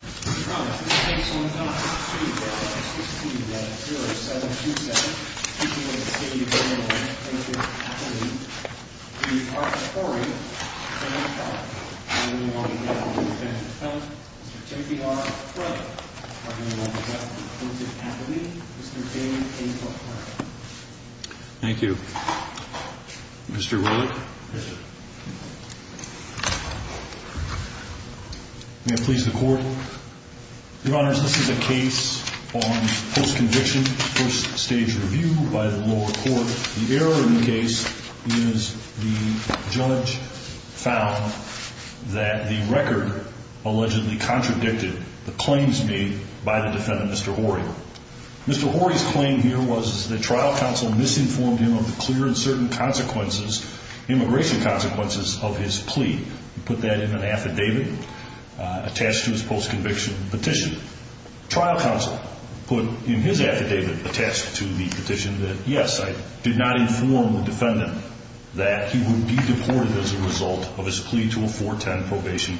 v. Hoare, attorney general, and I do want to thank the defendant, Mr. T.P.R. Rutherford, and I do want to thank the plaintiff's attorney, Mr. David A. Buckner. Thank you. Mr. Rutherford. Yes, sir. May it please the court. Your Honors, this is a case on post-conviction, first stage review by the lower court. The error in the case is the judge found that the record allegedly contradicted the claims made by the defendant, Mr. Hoare. Mr. Hoare's claim here was that trial counsel misinformed him of the clear and certain consequences, immigration consequences, of his plea. He put that in an affidavit attached to his post-conviction petition. Trial counsel put in his affidavit attached to the petition that, yes, I did not inform the defendant that he would be deported as a result of his plea to a 410 probation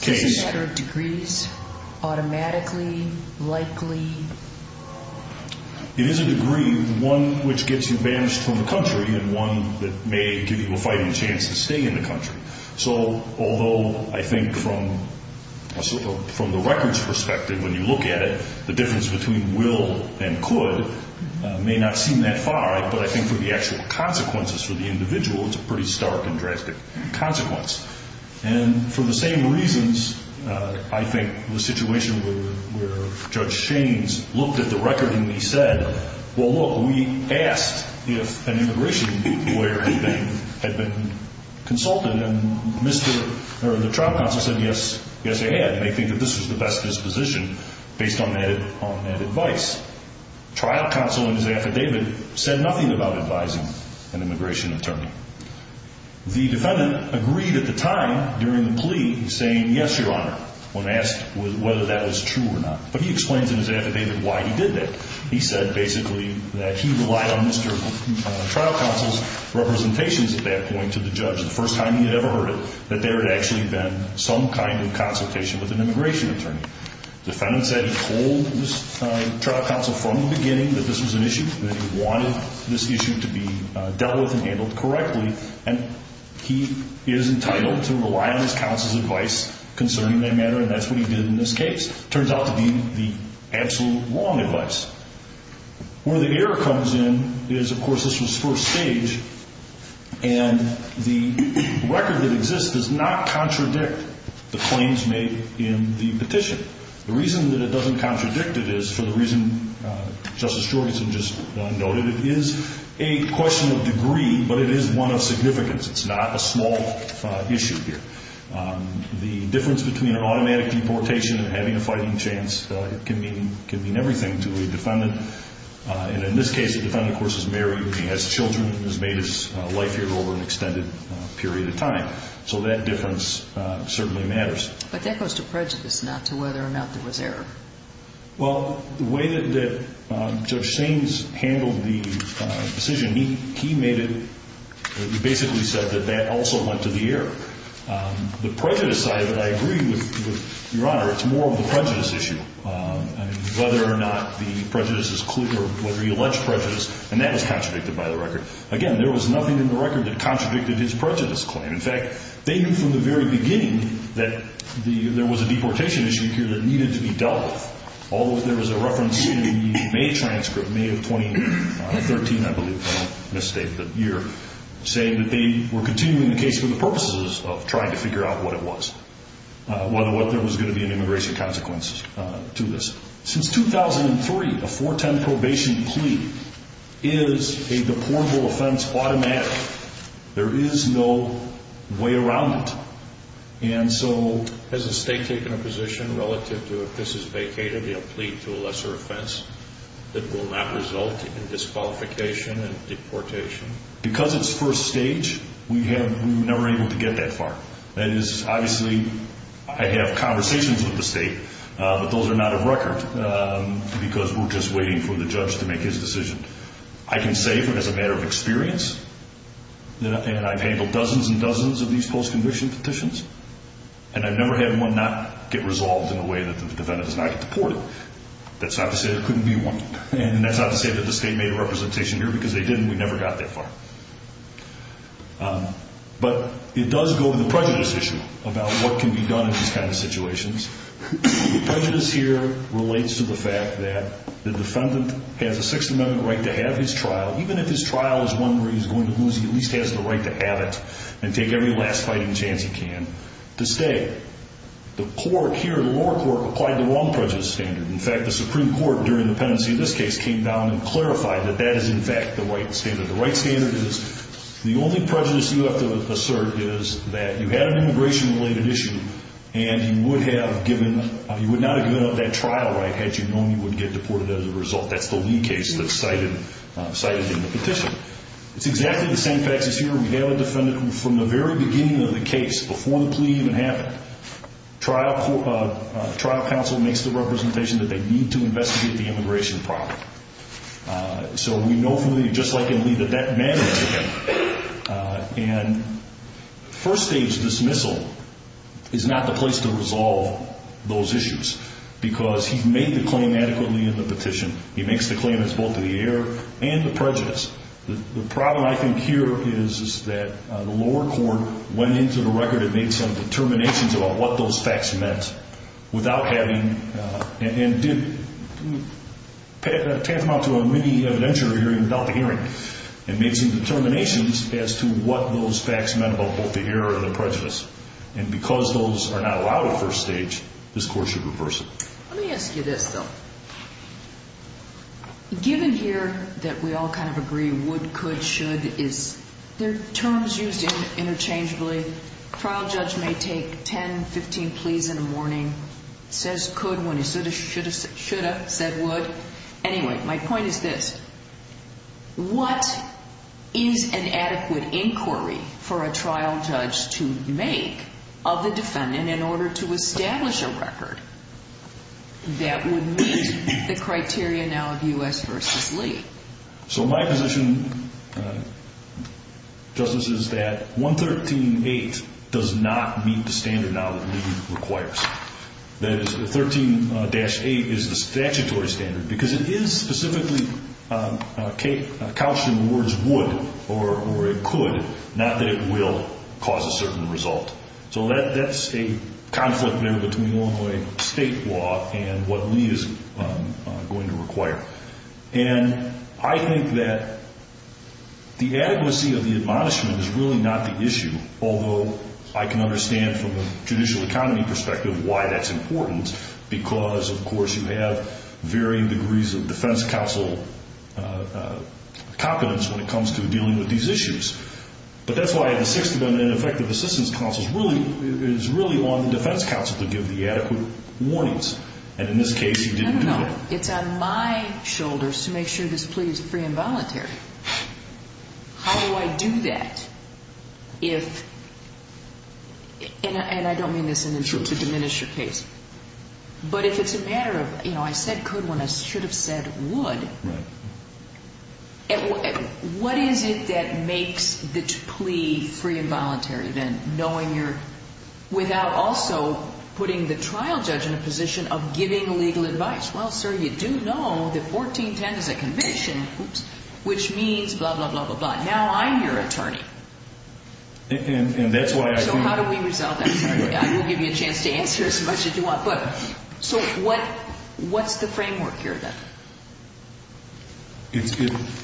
case. Is this a matter of degrees, automatically, likely? It is a degree, one which gets you banished from the country and one that may give you a fighting chance to stay in the country. So although I think from the record's perspective, when you look at it, the difference between will and could may not seem that far, but I think for the actual consequences for the individual, it's a pretty stark and drastic consequence. And for the same reasons, I think the situation where Judge Shaines looked at the record and he said, well, look, we asked if an immigration lawyer had been consulted and the trial counsel said, yes, they had. They think that this was the best disposition based on that advice. Trial counsel in his affidavit said nothing about advising an immigration attorney. The defendant agreed at the time during the plea saying, yes, Your Honor, when asked whether that was true or not. But he explains in his affidavit why he did that. He said basically that he relied on Mr. Trial counsel's representations at that point to the judge. The first time he had ever heard it, that there had actually been some kind of consultation with an immigration attorney. The defendant said he told Mr. Trial counsel from the beginning that this was an issue, that he wanted this issue to be dealt with and handled correctly, and he is entitled to rely on his counsel's advice concerning that matter, and that's what he did in this case. It turns out to be the absolute wrong advice. Where the error comes in is, of course, this was first stage, and the record that exists does not contradict the claims made in the petition. The reason that it doesn't contradict it is for the reason Justice Jorgenson just noted. It is a question of degree, but it is one of significance. It's not a small issue here. The difference between an automatic deportation and having a fighting chance can mean everything to a defendant. And in this case, the defendant, of course, is married and he has children and has made his life here over an extended period of time. So that difference certainly matters. But that goes to prejudice, not to whether or not there was error. Well, the way that Judge Saines handled the decision, he made it, he basically said that that also went to the error. The prejudice side of it, I agree with Your Honor, it's more of the prejudice issue. Whether or not the prejudice is clear, whether he alleged prejudice, and that was contradicted by the record. Again, there was nothing in the record that contradicted his prejudice claim. In fact, they knew from the very beginning that there was a deportation issue here that needed to be dealt with. Although there was a reference in the May transcript, May of 2013, I believe, if I don't misstate the year, saying that they were continuing the case for the purposes of trying to figure out what it was, whether or not there was going to be an immigration consequence to this. Since 2003, a 410 probation plea is a deportable offense automatically. There is no way around it. And so has the state taken a position relative to if this is vacated, be it a plea to a lesser offense that will not result in disqualification and deportation? Because it's first stage, we were never able to get that far. That is, obviously I have conversations with the state, but those are not of record because we're just waiting for the judge to make his decision. I can say as a matter of experience, and I've handled dozens and dozens of these post-conviction petitions, and I've never had one not get resolved in a way that the defendant does not get deported. That's not to say there couldn't be one. And that's not to say that the state made a representation here because they didn't. We never got that far. But it does go to the prejudice issue about what can be done in these kind of situations. Prejudice here relates to the fact that the defendant has a Sixth Amendment right to have his trial. Even if his trial is one where he's going to lose, he at least has the right to have it and take every last fighting chance he can to stay. The court here, the lower court, applied the wrong prejudice standard. In fact, the Supreme Court during the pendency of this case came down and clarified that that is in fact the right standard. The right standard is the only prejudice you have to assert is that you had an immigration-related issue and you would not have given up that trial right had you known you wouldn't get deported as a result. That's the Lee case that's cited in the petition. It's exactly the same facts as here. We have a defendant who from the very beginning of the case, before the plea even happened, trial counsel makes the representation that they need to investigate the immigration problem. So we know from Lee, just like in Lee, that that matters to him. And first-stage dismissal is not the place to resolve those issues because he's made the claim adequately in the petition. He makes the claim as both to the error and the prejudice. The problem I think here is that the lower court went into the record and made some determinations about what those facts meant without having and did tantamount to a mini evidentiary hearing without the hearing and made some determinations as to what those facts meant about both the error and the prejudice. And because those are not allowed at first stage, this court should reverse it. Let me ask you this, though. Given here that we all kind of agree would, could, should, is there terms used interchangeably? A trial judge may take 10, 15 pleas in a morning, says could when he shoulda, shoulda, shoulda, said would. Anyway, my point is this. What is an adequate inquiry for a trial judge to make of the defendant in order to establish a record that would meet the criteria now of U.S. v. Lee? So my position, Justice, is that 113.8 does not meet the standard now that Lee requires. That is, 13-8 is the statutory standard because it is specifically couched in the words would or could, not that it will cause a certain result. So that's a conflict there between Illinois state law and what Lee is going to require. And I think that the adequacy of the admonishment is really not the issue, although I can understand from a judicial economy perspective why that's important because, of course, you have varying degrees of defense counsel competence when it comes to dealing with these issues. But that's why an effective assistance counsel is really on the defense counsel to give the adequate warnings. And in this case, you didn't do that. It's on my shoulders to make sure this plea is free and voluntary. How do I do that if, and I don't mean this to diminish your case, but if it's a matter of, you know, I said could when I should have said would, what is it that makes the plea free and voluntary then, without also putting the trial judge in a position of giving legal advice? Well, sir, you do know that 14-10 is a commission, which means blah, blah, blah, blah, blah. Now I'm your attorney. So how do we resolve that? I will give you a chance to answer as much as you want. So what's the framework here then?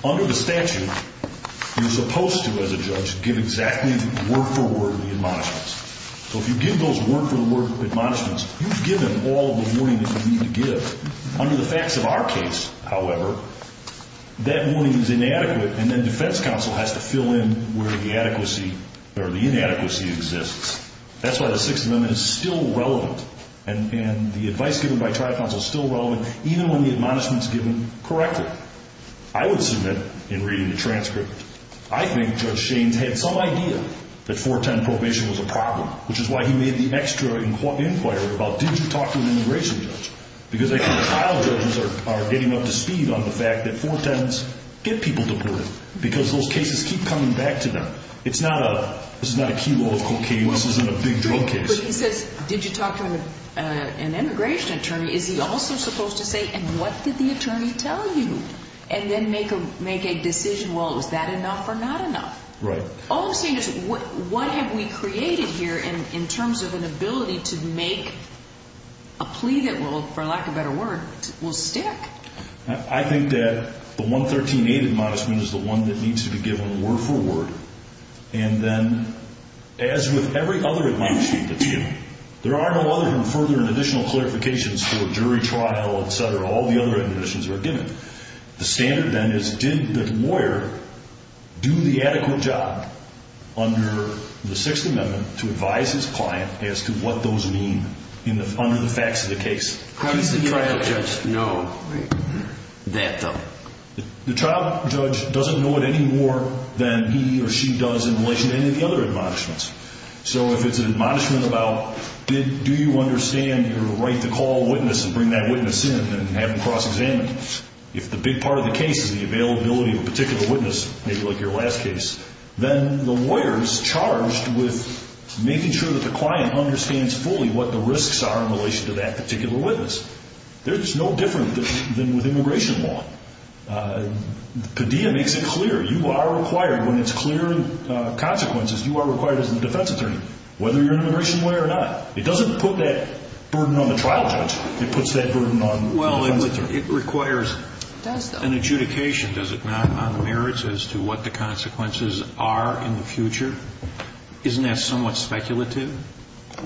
Under the statute, you're supposed to, as a judge, give exactly word-for-word the admonishments. So if you give those word-for-word admonishments, you've given all the warning that you need to give. Under the facts of our case, however, that warning is inadequate, and then defense counsel has to fill in where the inadequacy or the inadequacy exists. That's why the Sixth Amendment is still relevant, and the advice given by trial counsel is still relevant, even when the admonishment is given correctly. I would submit in reading the transcript, I think Judge Shaines had some idea that 4-10 probation was a problem, which is why he made the extra inquiry about did you talk to an immigration judge, because I think trial judges are getting up to speed on the fact that 4-10s get people deported because those cases keep coming back to them. It's not a, this is not a key role of cocaine. This isn't a big drug case. But he says, did you talk to an immigration attorney? Is he also supposed to say, and what did the attorney tell you? And then make a decision, well, was that enough or not enough? Right. All I'm saying is what have we created here in terms of an ability to make a plea that will, for lack of a better word, will stick? I think that the 113A admonishment is the one that needs to be given word-for-word, and then as with every other admonishment that's given, there are no other than further and additional clarifications for a jury trial, et cetera, all the other admonitions that are given. The standard then is did the lawyer do the adequate job under the Sixth Amendment to advise his client as to what those mean under the facts of the case? How does the trial judge know that though? The trial judge doesn't know it any more than he or she does in relation to any of the other admonishments. So if it's an admonishment about do you understand your right to call a witness and bring that witness in and have them cross-examine, if the big part of the case is the availability of a particular witness, maybe like your last case, then the lawyer is charged with making sure that the client understands fully what the risks are in relation to that particular witness. There's no difference than with immigration law. Padilla makes it clear. You are required when it's clear consequences, you are required as a defense attorney, whether you're an immigration lawyer or not. It doesn't put that burden on the trial judge. It puts that burden on the defense attorney. Well, it requires an adjudication, does it not, on the merits as to what the consequences are in the future? Isn't that somewhat speculative?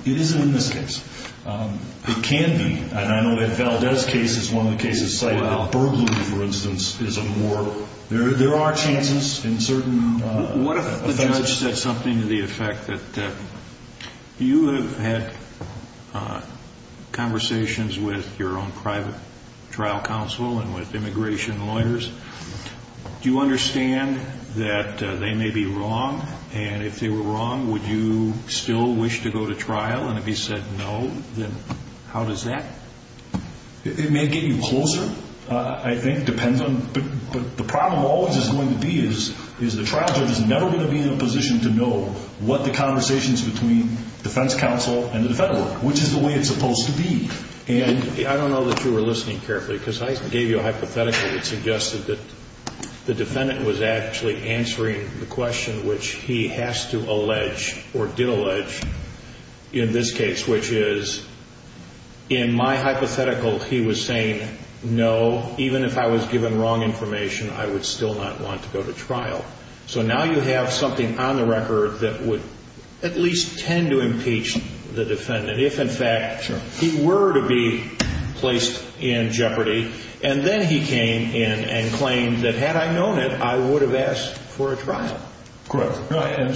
It isn't in this case. It can be. And I know that Valdez's case is one of the cases cited. A burglary, for instance, is a more – there are chances in certain offenses. What if the judge said something to the effect that you have had conversations with your own private trial counsel and with immigration lawyers, do you understand that they may be wrong, and if they were wrong, would you still wish to go to trial? And if he said no, then how does that? It may get you closer, I think, depends on – but the problem always is going to be is the trial judge is never going to be in a position to know what the conversations between defense counsel and the defendant were, which is the way it's supposed to be. I don't know that you were listening carefully because I gave you a hypothetical that suggested that the defendant was actually answering the question which he has to allege or did allege in this case, which is in my hypothetical he was saying no, even if I was given wrong information, I would still not want to go to trial. So now you have something on the record that would at least tend to impeach the defendant, if in fact he were to be placed in jeopardy. And then he came in and claimed that had I known it, I would have asked for a trial. Correct.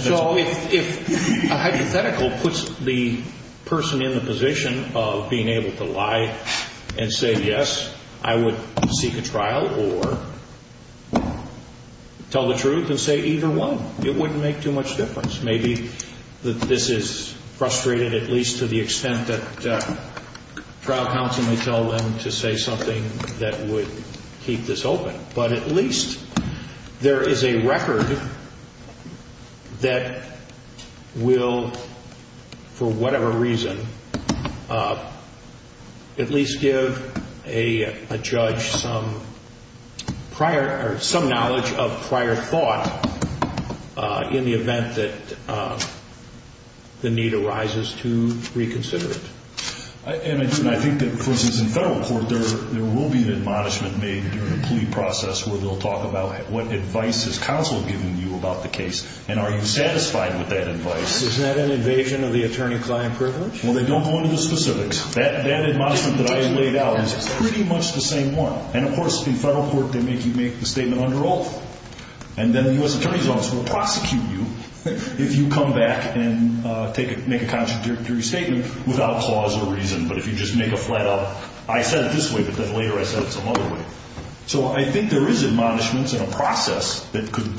So if a hypothetical puts the person in the position of being able to lie and say yes, I would seek a trial or tell the truth and say either one, it wouldn't make too much difference. Maybe this is frustrated at least to the extent that trial counsel may tell them to say something that would keep this open. But at least there is a record that will for whatever reason at least give a judge some prior or some knowledge of prior thought in the event that the need arises to reconsider it. And I think that, for instance, in federal court there will be an admonishment made during a plea process where they'll talk about what advice has counsel given you about the case and are you satisfied with that advice. Isn't that an invasion of the attorney-client privilege? Well, they don't go into the specifics. That admonishment that I laid out is pretty much the same one. And, of course, in federal court they make you make the statement under oath. And then the U.S. Attorney's Office will prosecute you if you come back and make a contradictory statement without cause or reason. But if you just make a flat out, I said it this way, but then later I said it some other way. So I think there is admonishments and a process that could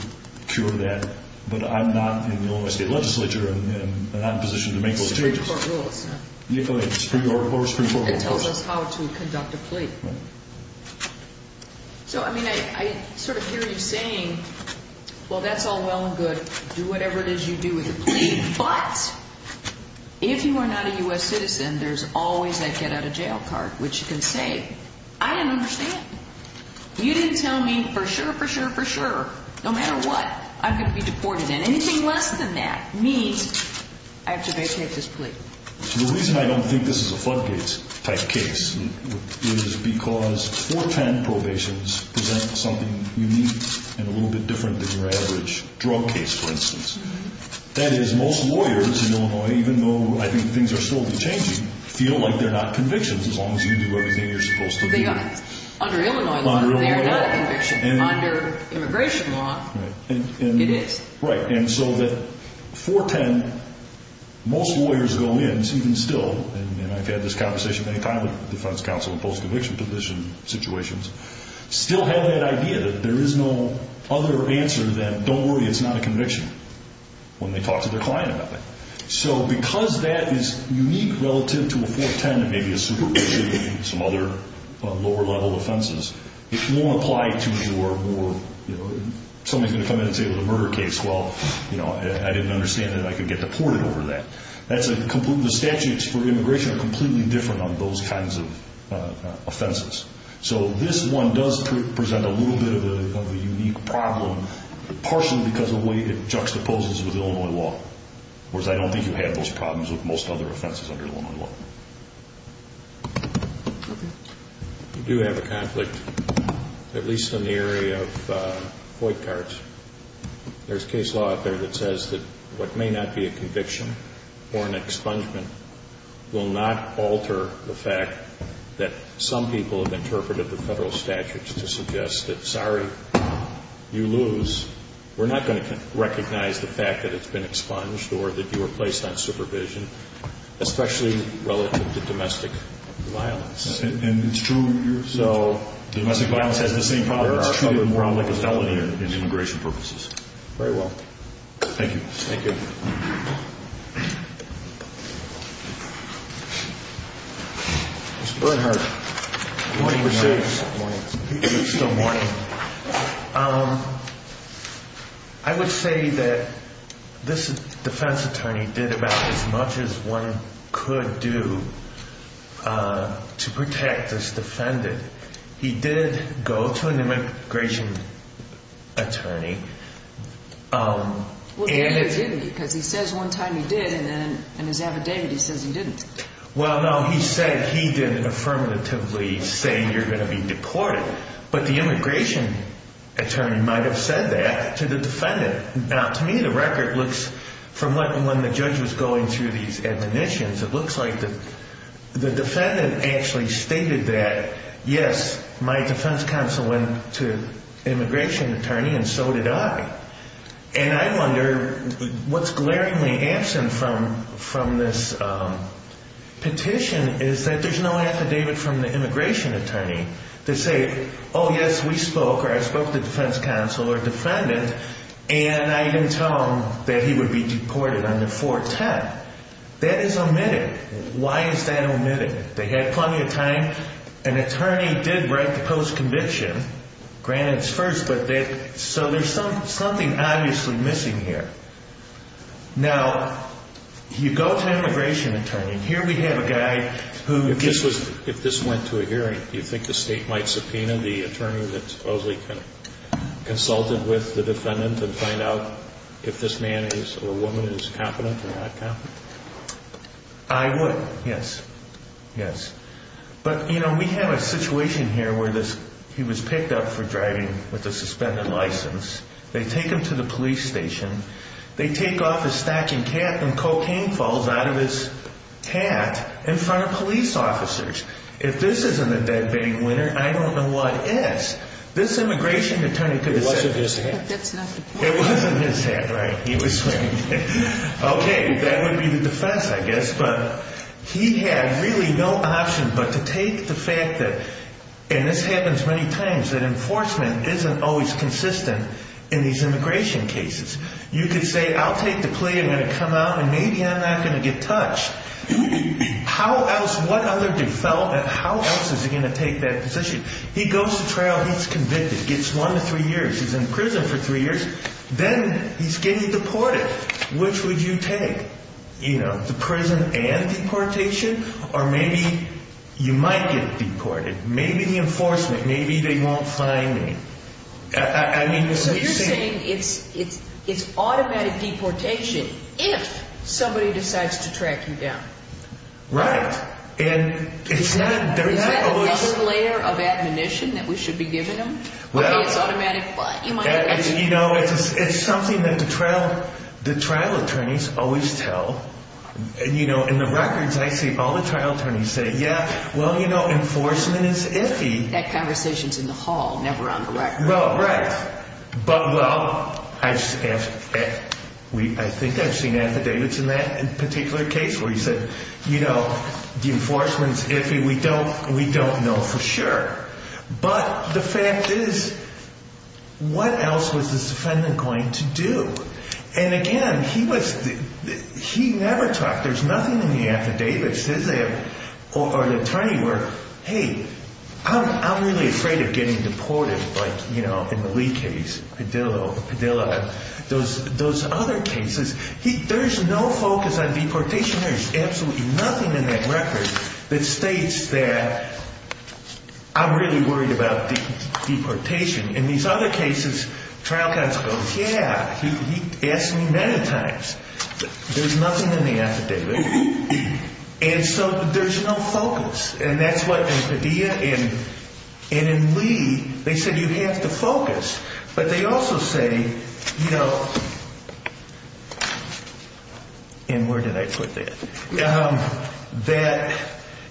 cure that, but I'm not in the Illinois State Legislature and I'm not in a position to make those changes. It's Supreme Court rules. It's Supreme Court rules. It tells us how to conduct a plea. So, I mean, I sort of hear you saying, well, that's all well and good. Do whatever it is you do with the plea. But if you are not a U.S. citizen, there's always that get-out-of-jail card, which you can say, I didn't understand. You didn't tell me for sure, for sure, for sure, no matter what, I'm going to be deported. And anything less than that means I have to vacate this plea. The reason I don't think this is a floodgates type case is because 410 probations present something unique and a little bit different than your average drug case, for instance. That is, most lawyers in Illinois, even though I think things are slowly changing, feel like they're not convictions as long as you do everything you're supposed to do. Under Illinois law, they are not a conviction. Under immigration law, it is. Right, and so that 410, most lawyers go in, even still, and I've had this conversation many times with defense counsel in post-conviction situations, still have that idea that there is no other answer than, don't worry, it's not a conviction, when they talk to their client about that. So because that is unique relative to a 410 and maybe a subpoena, some other lower-level offenses, it won't apply to your more, you know, somebody's going to come in and say it was a murder case. Well, you know, I didn't understand that I could get deported over that. The statutes for immigration are completely different on those kinds of offenses. So this one does present a little bit of a unique problem, partially because of the way it juxtaposes with Illinois law, whereas I don't think you have those problems with most other offenses under Illinois law. Okay. We do have a conflict, at least in the area of void cards. There's case law out there that says that what may not be a conviction or an expungement will not alter the fact that some people have interpreted the federal statutes to suggest that, sorry, you lose, we're not going to recognize the fact that it's been expunged or that you were placed on supervision, especially relative to domestic violence. And it's true. So domestic violence has the same problem. It's treated more like a felony in immigration purposes. Very well. Thank you. Mr. Bernhardt. Good morning, Mr. Chief. Good morning. Good morning. I would say that this defense attorney did about as much as one could do to protect this defendant. He did go to an immigration attorney. Well, he didn't, because he says one time he did, and then in his affidavit he says he didn't. Well, no, he said he didn't affirmatively say you're going to be deported. But the immigration attorney might have said that to the defendant. Now, to me, the record looks from when the judge was going through these admonitions, it looks like the defendant actually stated that, yes, my defense counsel went to an immigration attorney, and so did I. And I wonder what's glaringly absent from this petition is that there's no affidavit from the immigration attorney to say, oh, yes, we spoke, or I spoke to the defense counsel or defendant, and I didn't tell him that he would be deported under 410. That is omitted. Why is that omitted? They had plenty of time. An attorney did write the post-conviction. Granted, it's first, but that so there's something obviously missing here. Now, you go to an immigration attorney, and here we have a guy who gets this. If this went to a hearing, do you think the state might subpoena the attorney that supposedly consulted with the defendant and find out if this man or woman is competent or not competent? I would, yes, yes. But, you know, we have a situation here where he was picked up for driving with a suspended license. They take him to the police station. They take off his stocking cap, and cocaine falls out of his hat in front of police officers. If this isn't a bedbanging winner, I don't know what is. This immigration attorney could have said this. It wasn't his hat. It wasn't his hat, right? He was wearing it. Okay, that would be the defense, I guess. But he had really no option but to take the fact that, and this happens many times, that enforcement isn't always consistent in these immigration cases. You could say, I'll take the plea. I'm going to come out, and maybe I'm not going to get touched. How else, what other, how else is he going to take that position? He goes to trial. He's convicted. Gets one to three years. He's in prison for three years. Then he's getting deported. Which would you take? You know, the prison and deportation? Or maybe you might get deported. Maybe the enforcement. Maybe they won't find me. I mean, it's the same. So you're saying it's automatic deportation if somebody decides to track you down. Right. And it's not always. Is that another layer of admonition that we should be giving them? Okay, it's automatic, but you might get deported. You know, it's something that the trial attorneys always tell. And, you know, in the records I see all the trial attorneys say, yeah, well, you know, enforcement is iffy. That conversation is in the hall, never on the record. Right. But, well, I think I've seen affidavits in that particular case where he said, you know, the enforcement is iffy. We don't know for sure. But the fact is, what else was this defendant going to do? And, again, he never talked. There's nothing in the affidavits. Or the attorney were, hey, I'm really afraid of getting deported, like, you know, in the Lee case, Padilla. Those other cases, there's no focus on deportation. There's absolutely nothing in that record that states that I'm really worried about deportation. In these other cases, trial counsel goes, yeah, he asked me many times. There's nothing in the affidavit. And so there's no focus. And that's what in Padilla and in Lee, they said you have to focus. But they also say, you know, and where did I put that, that,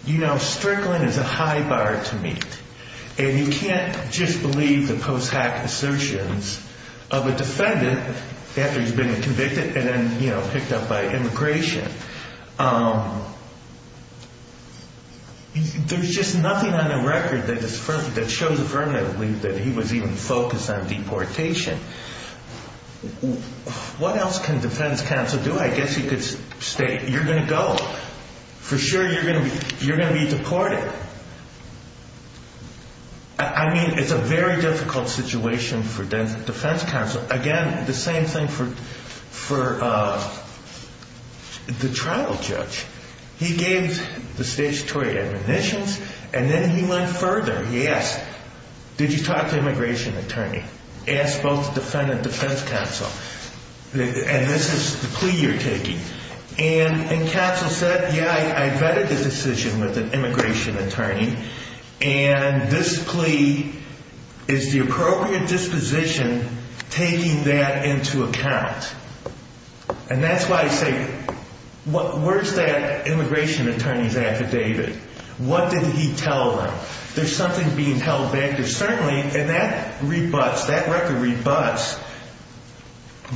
you know, strickling is a high bar to meet. And you can't just believe the post-hack assertions of a defendant after he's been convicted and then, you know, picked up by immigration. There's just nothing on the record that shows affirmatively that he was even focused on deportation. What else can defense counsel do? I guess you could state you're going to go. For sure you're going to be deported. I mean, it's a very difficult situation for defense counsel. Again, the same thing for the trial judge. He gave the statutory admonitions, and then he went further. He asked, did you talk to immigration attorney? Asked both the defendant and defense counsel. And this is the plea you're taking. And counsel said, yeah, I vetted the decision with an immigration attorney. And this plea is the appropriate disposition taking that into account. And that's why I say, where's that immigration attorney's affidavit? What did he tell them? There's something being held back. And that rebuts, that record rebuts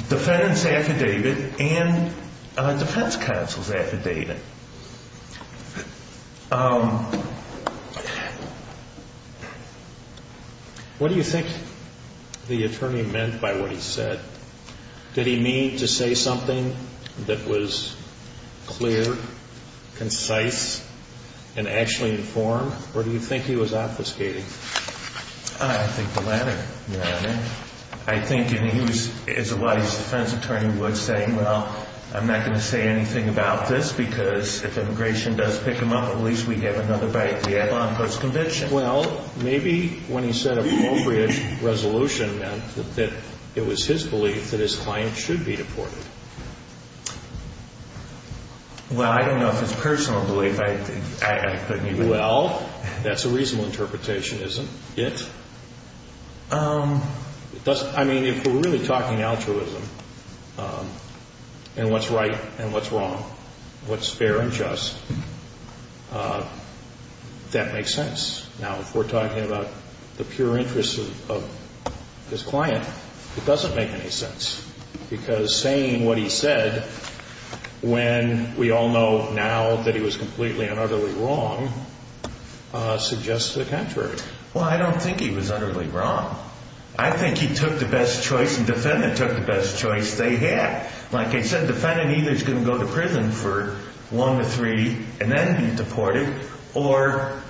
defendant's affidavit and defense counsel's affidavit. What do you think the attorney meant by what he said? Did he mean to say something that was clear, concise, and actually informed? Or do you think he was obfuscating? I think the latter. I think he was, as a defense attorney would say, well, I'm not going to say anything about this. Because if immigration does pick him up, at least we'd have another bite to eat on post-conviction. Well, maybe when he said appropriate resolution meant that it was his belief that his client should be deported. Well, I don't know if it's personal belief. Well, that's a reasonable interpretation, isn't it? I mean, if we're really talking altruism, and what's right and what's wrong, what's fair and just, that makes sense. Now, if we're talking about the pure interests of his client, it doesn't make any sense. Because saying what he said, when we all know now that he was completely and utterly wrong, suggests the contrary. Well, I don't think he was utterly wrong. I think he took the best choice, and the defendant took the best choice they had. Like I said, the defendant either is going to go to prison for one to three, and then be deported, or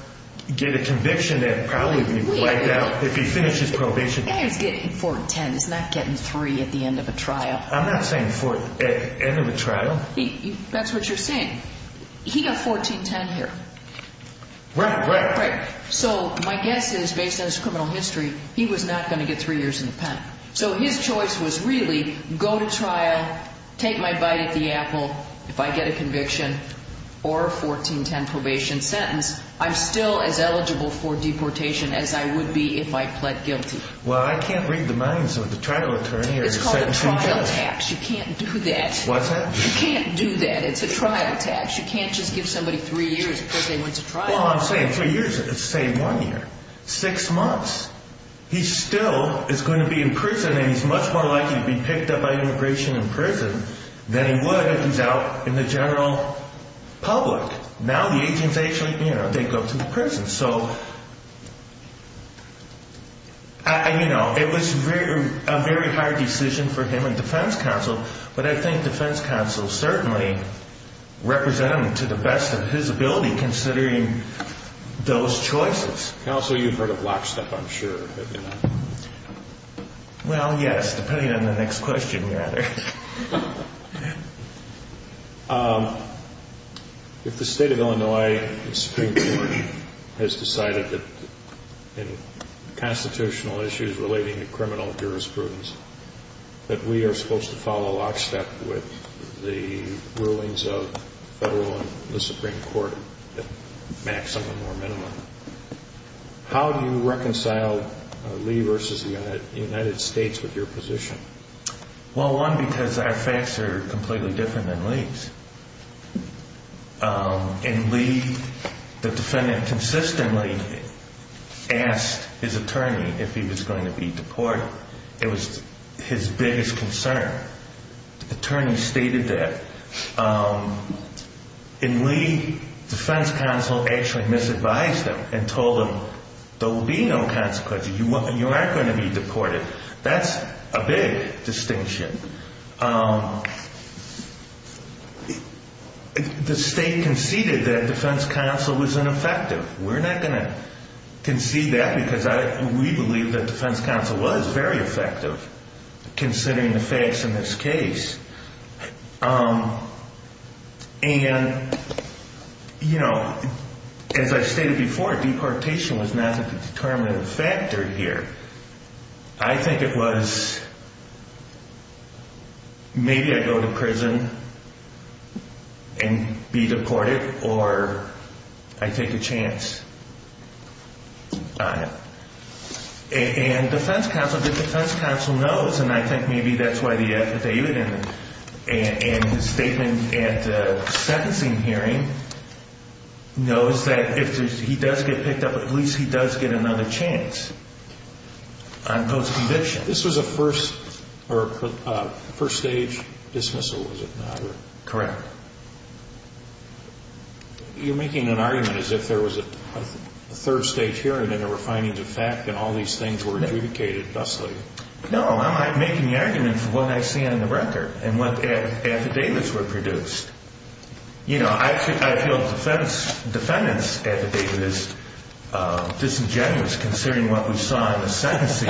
get a conviction that probably would be wiped out if he finishes probation. The guy who's getting 1410 is not getting three at the end of a trial. I'm not saying four at the end of a trial. That's what you're saying. He got 1410 here. Right, right. Right. So my guess is, based on his criminal history, he was not going to get three years in the pen. So his choice was really, go to trial, take my bite at the apple, if I get a conviction, or a 1410 probation sentence, I'm still as eligible for deportation as I would be if I pled guilty. Well, I can't read the minds of the trial attorney or the sentencing judge. It's called a trial tax. You can't do that. What's that? You can't do that. It's a trial tax. You can't just give somebody three years because they went to trial. Well, I'm saying three years. It's the same one year. Six months. He still is going to be in prison, and he's much more likely to be picked up by immigration in prison than he would if he's out in the general public. Now the agents actually, you know, they go to the prison. So, you know, it was a very hard decision for him and defense counsel, but I think defense counsel certainly represented him to the best of his ability considering those choices. Counsel, you've heard of lockstep, I'm sure, have you not? Well, yes, depending on the next question, rather. If the state of Illinois Supreme Court has decided that in constitutional issues relating to criminal jurisprudence that we are supposed to follow lockstep with the rulings of federal and the Supreme Court at maximum or minimum, how do you reconcile Lee versus the United States with your position? Well, one, because our facts are completely different than Lee's. In Lee, the defendant consistently asked his attorney if he was going to be deported. It was his biggest concern. The attorney stated that. In Lee, defense counsel actually misadvised him and told him, there will be no consequences. You aren't going to be deported. That's a big distinction. The state conceded that defense counsel was ineffective. We're not going to concede that because we believe that defense counsel was very effective considering the facts in this case. And, you know, as I stated before, deportation was not a determinative factor here. I think it was maybe I go to prison and be deported, or I take a chance on it. And defense counsel knows, and I think maybe that's why they even, and his statement at the sentencing hearing knows that if he does get picked up, at least he does get another chance on post-conviction. This was a first stage dismissal, was it not? Correct. You're making an argument as if there was a third stage hearing and there were findings of fact and all these things were adjudicated thusly. No, I'm not making the argument for what I see on the record and what affidavits were produced. You know, I feel a defendant's affidavit is disingenuous considering what we saw in the sentencing.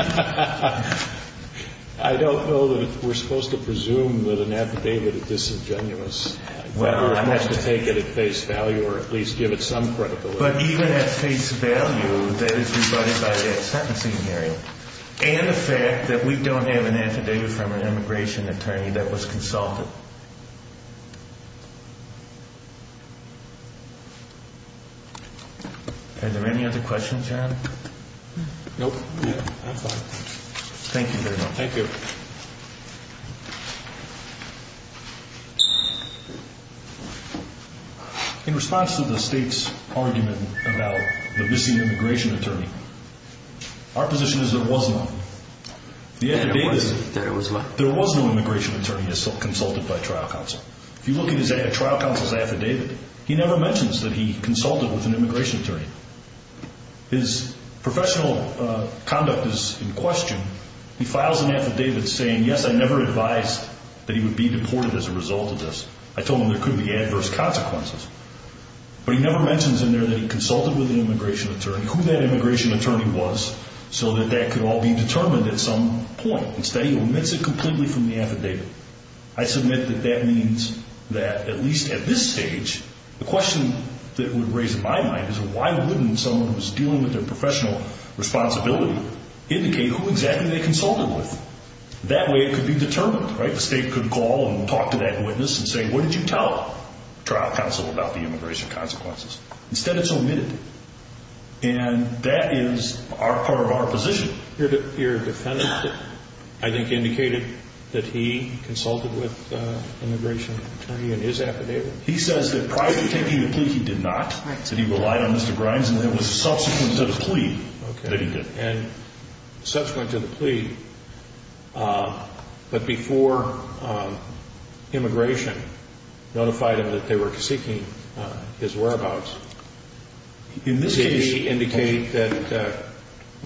I don't know that we're supposed to presume that an affidavit is disingenuous. Well, I have to take it at face value or at least give it some credibility. But even at face value, that is provided by that sentencing hearing and the fact that we don't have an affidavit from an immigration attorney that was consulted. Are there any other questions, John? Nope. Thank you very much. Thank you. In response to the State's argument about the missing immigration attorney, our position is there was none. There was no immigration attorney consulted by a trial counsel. If you look at a trial counsel's affidavit, he never mentions that he consulted with an immigration attorney. His professional conduct is in question. He files an affidavit saying, Yes, I never advised that he would be deported as a result of this. I told him there could be adverse consequences. But he never mentions in there that he consulted with an immigration attorney, who that immigration attorney was, so that that could all be determined at some point. Instead, he omits it completely from the affidavit. I submit that that means that, at least at this stage, the question that would raise in my mind is, why wouldn't someone who's dealing with their professional responsibility indicate who exactly they consulted with? That way it could be determined, right? The State could call and talk to that witness and say, What did you tell the trial counsel about the immigration consequences? Instead, it's omitted. And that is part of our position. Your defendant, I think, indicated that he consulted with an immigration attorney in his affidavit. He says that prior to taking the plea, he did not. He said he relied on Mr. Grimes, and it was subsequent to the plea that he did. And subsequent to the plea, but before immigration notified him that they were seeking his whereabouts, did he indicate that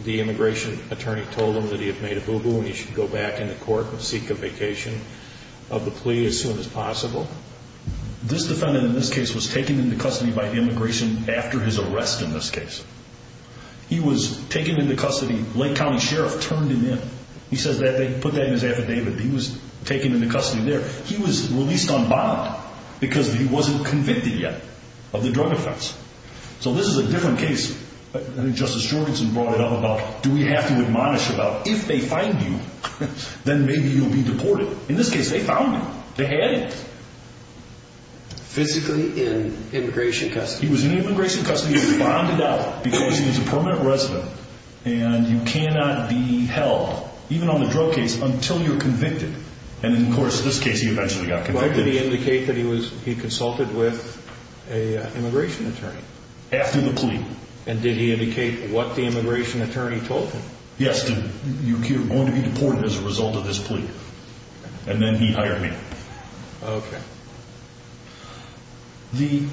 the immigration attorney told him that he had made a boo-boo and he should go back into court and seek a vacation of the plea as soon as possible? This defendant in this case was taken into custody by the immigration after his arrest in this case. He was taken into custody. Lake County Sheriff turned him in. He says that they put that in his affidavit. He was taken into custody there. He was released on bond because he wasn't convicted yet of the drug offense. So this is a different case. Justice Jorgensen brought it up about do we have to admonish about if they find you, then maybe you'll be deported. In this case, they found me. They had me. Physically in immigration custody? He was in immigration custody. He was bonded out because he was a permanent resident, and you cannot be held, even on the drug case, until you're convicted. And, of course, in this case, he eventually got convicted. Why did he indicate that he consulted with an immigration attorney? After the plea. And did he indicate what the immigration attorney told him? Yes. You're going to be deported as a result of this plea. And then he hired me. Okay. The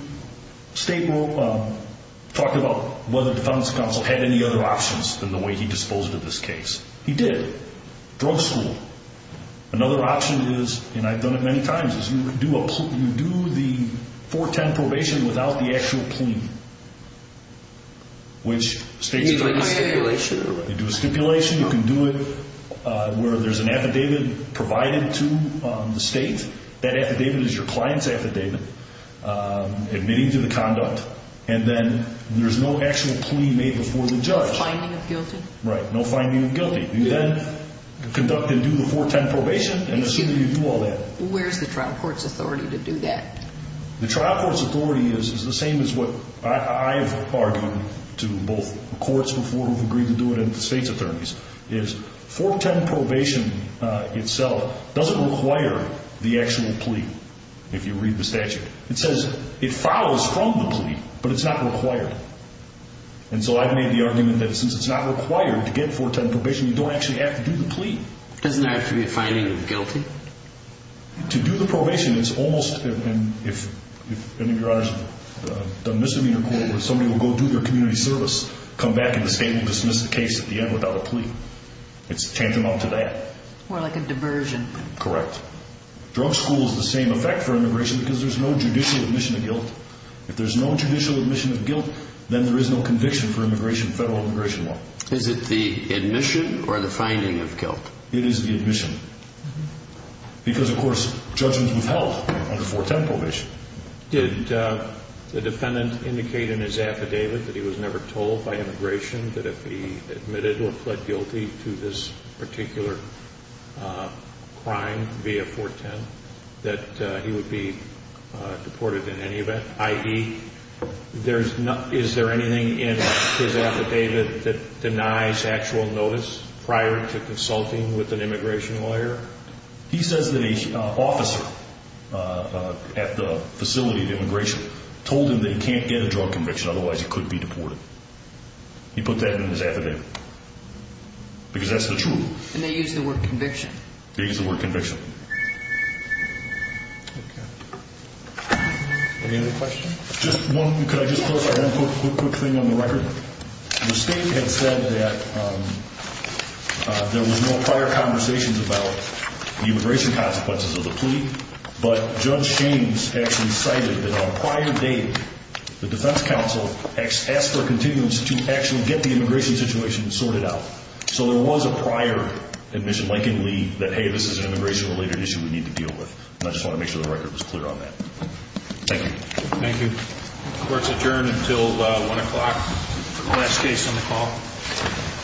state talked about whether the defendant's counsel had any other options than the way he disposed of this case. He did. Drug school. Another option is, and I've done it many times, is you do the 410 probation without the actual plea. You do a stipulation? You do a stipulation. You can do it where there's an affidavit provided to the state. That affidavit is your client's affidavit, admitting to the conduct, and then there's no actual plea made before the judge. No finding of guilty. Right. No finding of guilty. You then conduct and do the 410 probation and assume you do all that. Where's the trial court's authority to do that? The trial court's authority is the same as what I've argued to both courts before who've agreed to do it and the state's attorneys, is 410 probation itself doesn't require the actual plea, if you read the statute. It says it follows from the plea, but it's not required. And so I've made the argument that since it's not required to get 410 probation, you don't actually have to do the plea. Doesn't there have to be a finding of guilty? To do the probation, it's almost, and if any of your honors have done misdemeanor court where somebody will go do their community service, come back and the state will dismiss the case at the end without a plea. It's tantamount to that. More like a diversion. Correct. Drug school is the same effect for immigration because there's no judicial admission of guilt. If there's no judicial admission of guilt, then there is no conviction for federal immigration law. Is it the admission or the finding of guilt? It is the admission. Because, of course, judgments withheld under 410 probation. Did the defendant indicate in his affidavit that he was never told by immigration that if he admitted or pled guilty to this particular crime via 410, that he would be deported in any event? I.e., is there anything in his affidavit that denies actual notice prior to consulting with an immigration lawyer? He says that an officer at the facility of immigration told him that he can't get a drug conviction, otherwise he could be deported. He put that in his affidavit because that's the truth. And they used the word conviction. They used the word conviction. Any other questions? Just one. Could I just post one quick thing on the record? The state had said that there was no prior conversations about the immigration consequences of the plea, but Judge James actually cited that on a prior date, the defense counsel asked for continuance to actually get the immigration situation sorted out. So there was a prior admission, likely, that, hey, this is an immigration-related issue we need to deal with. And I just want to make sure the record was clear on that. Thank you. Thank you. Court is adjourned until 1 o'clock for the last case on the call.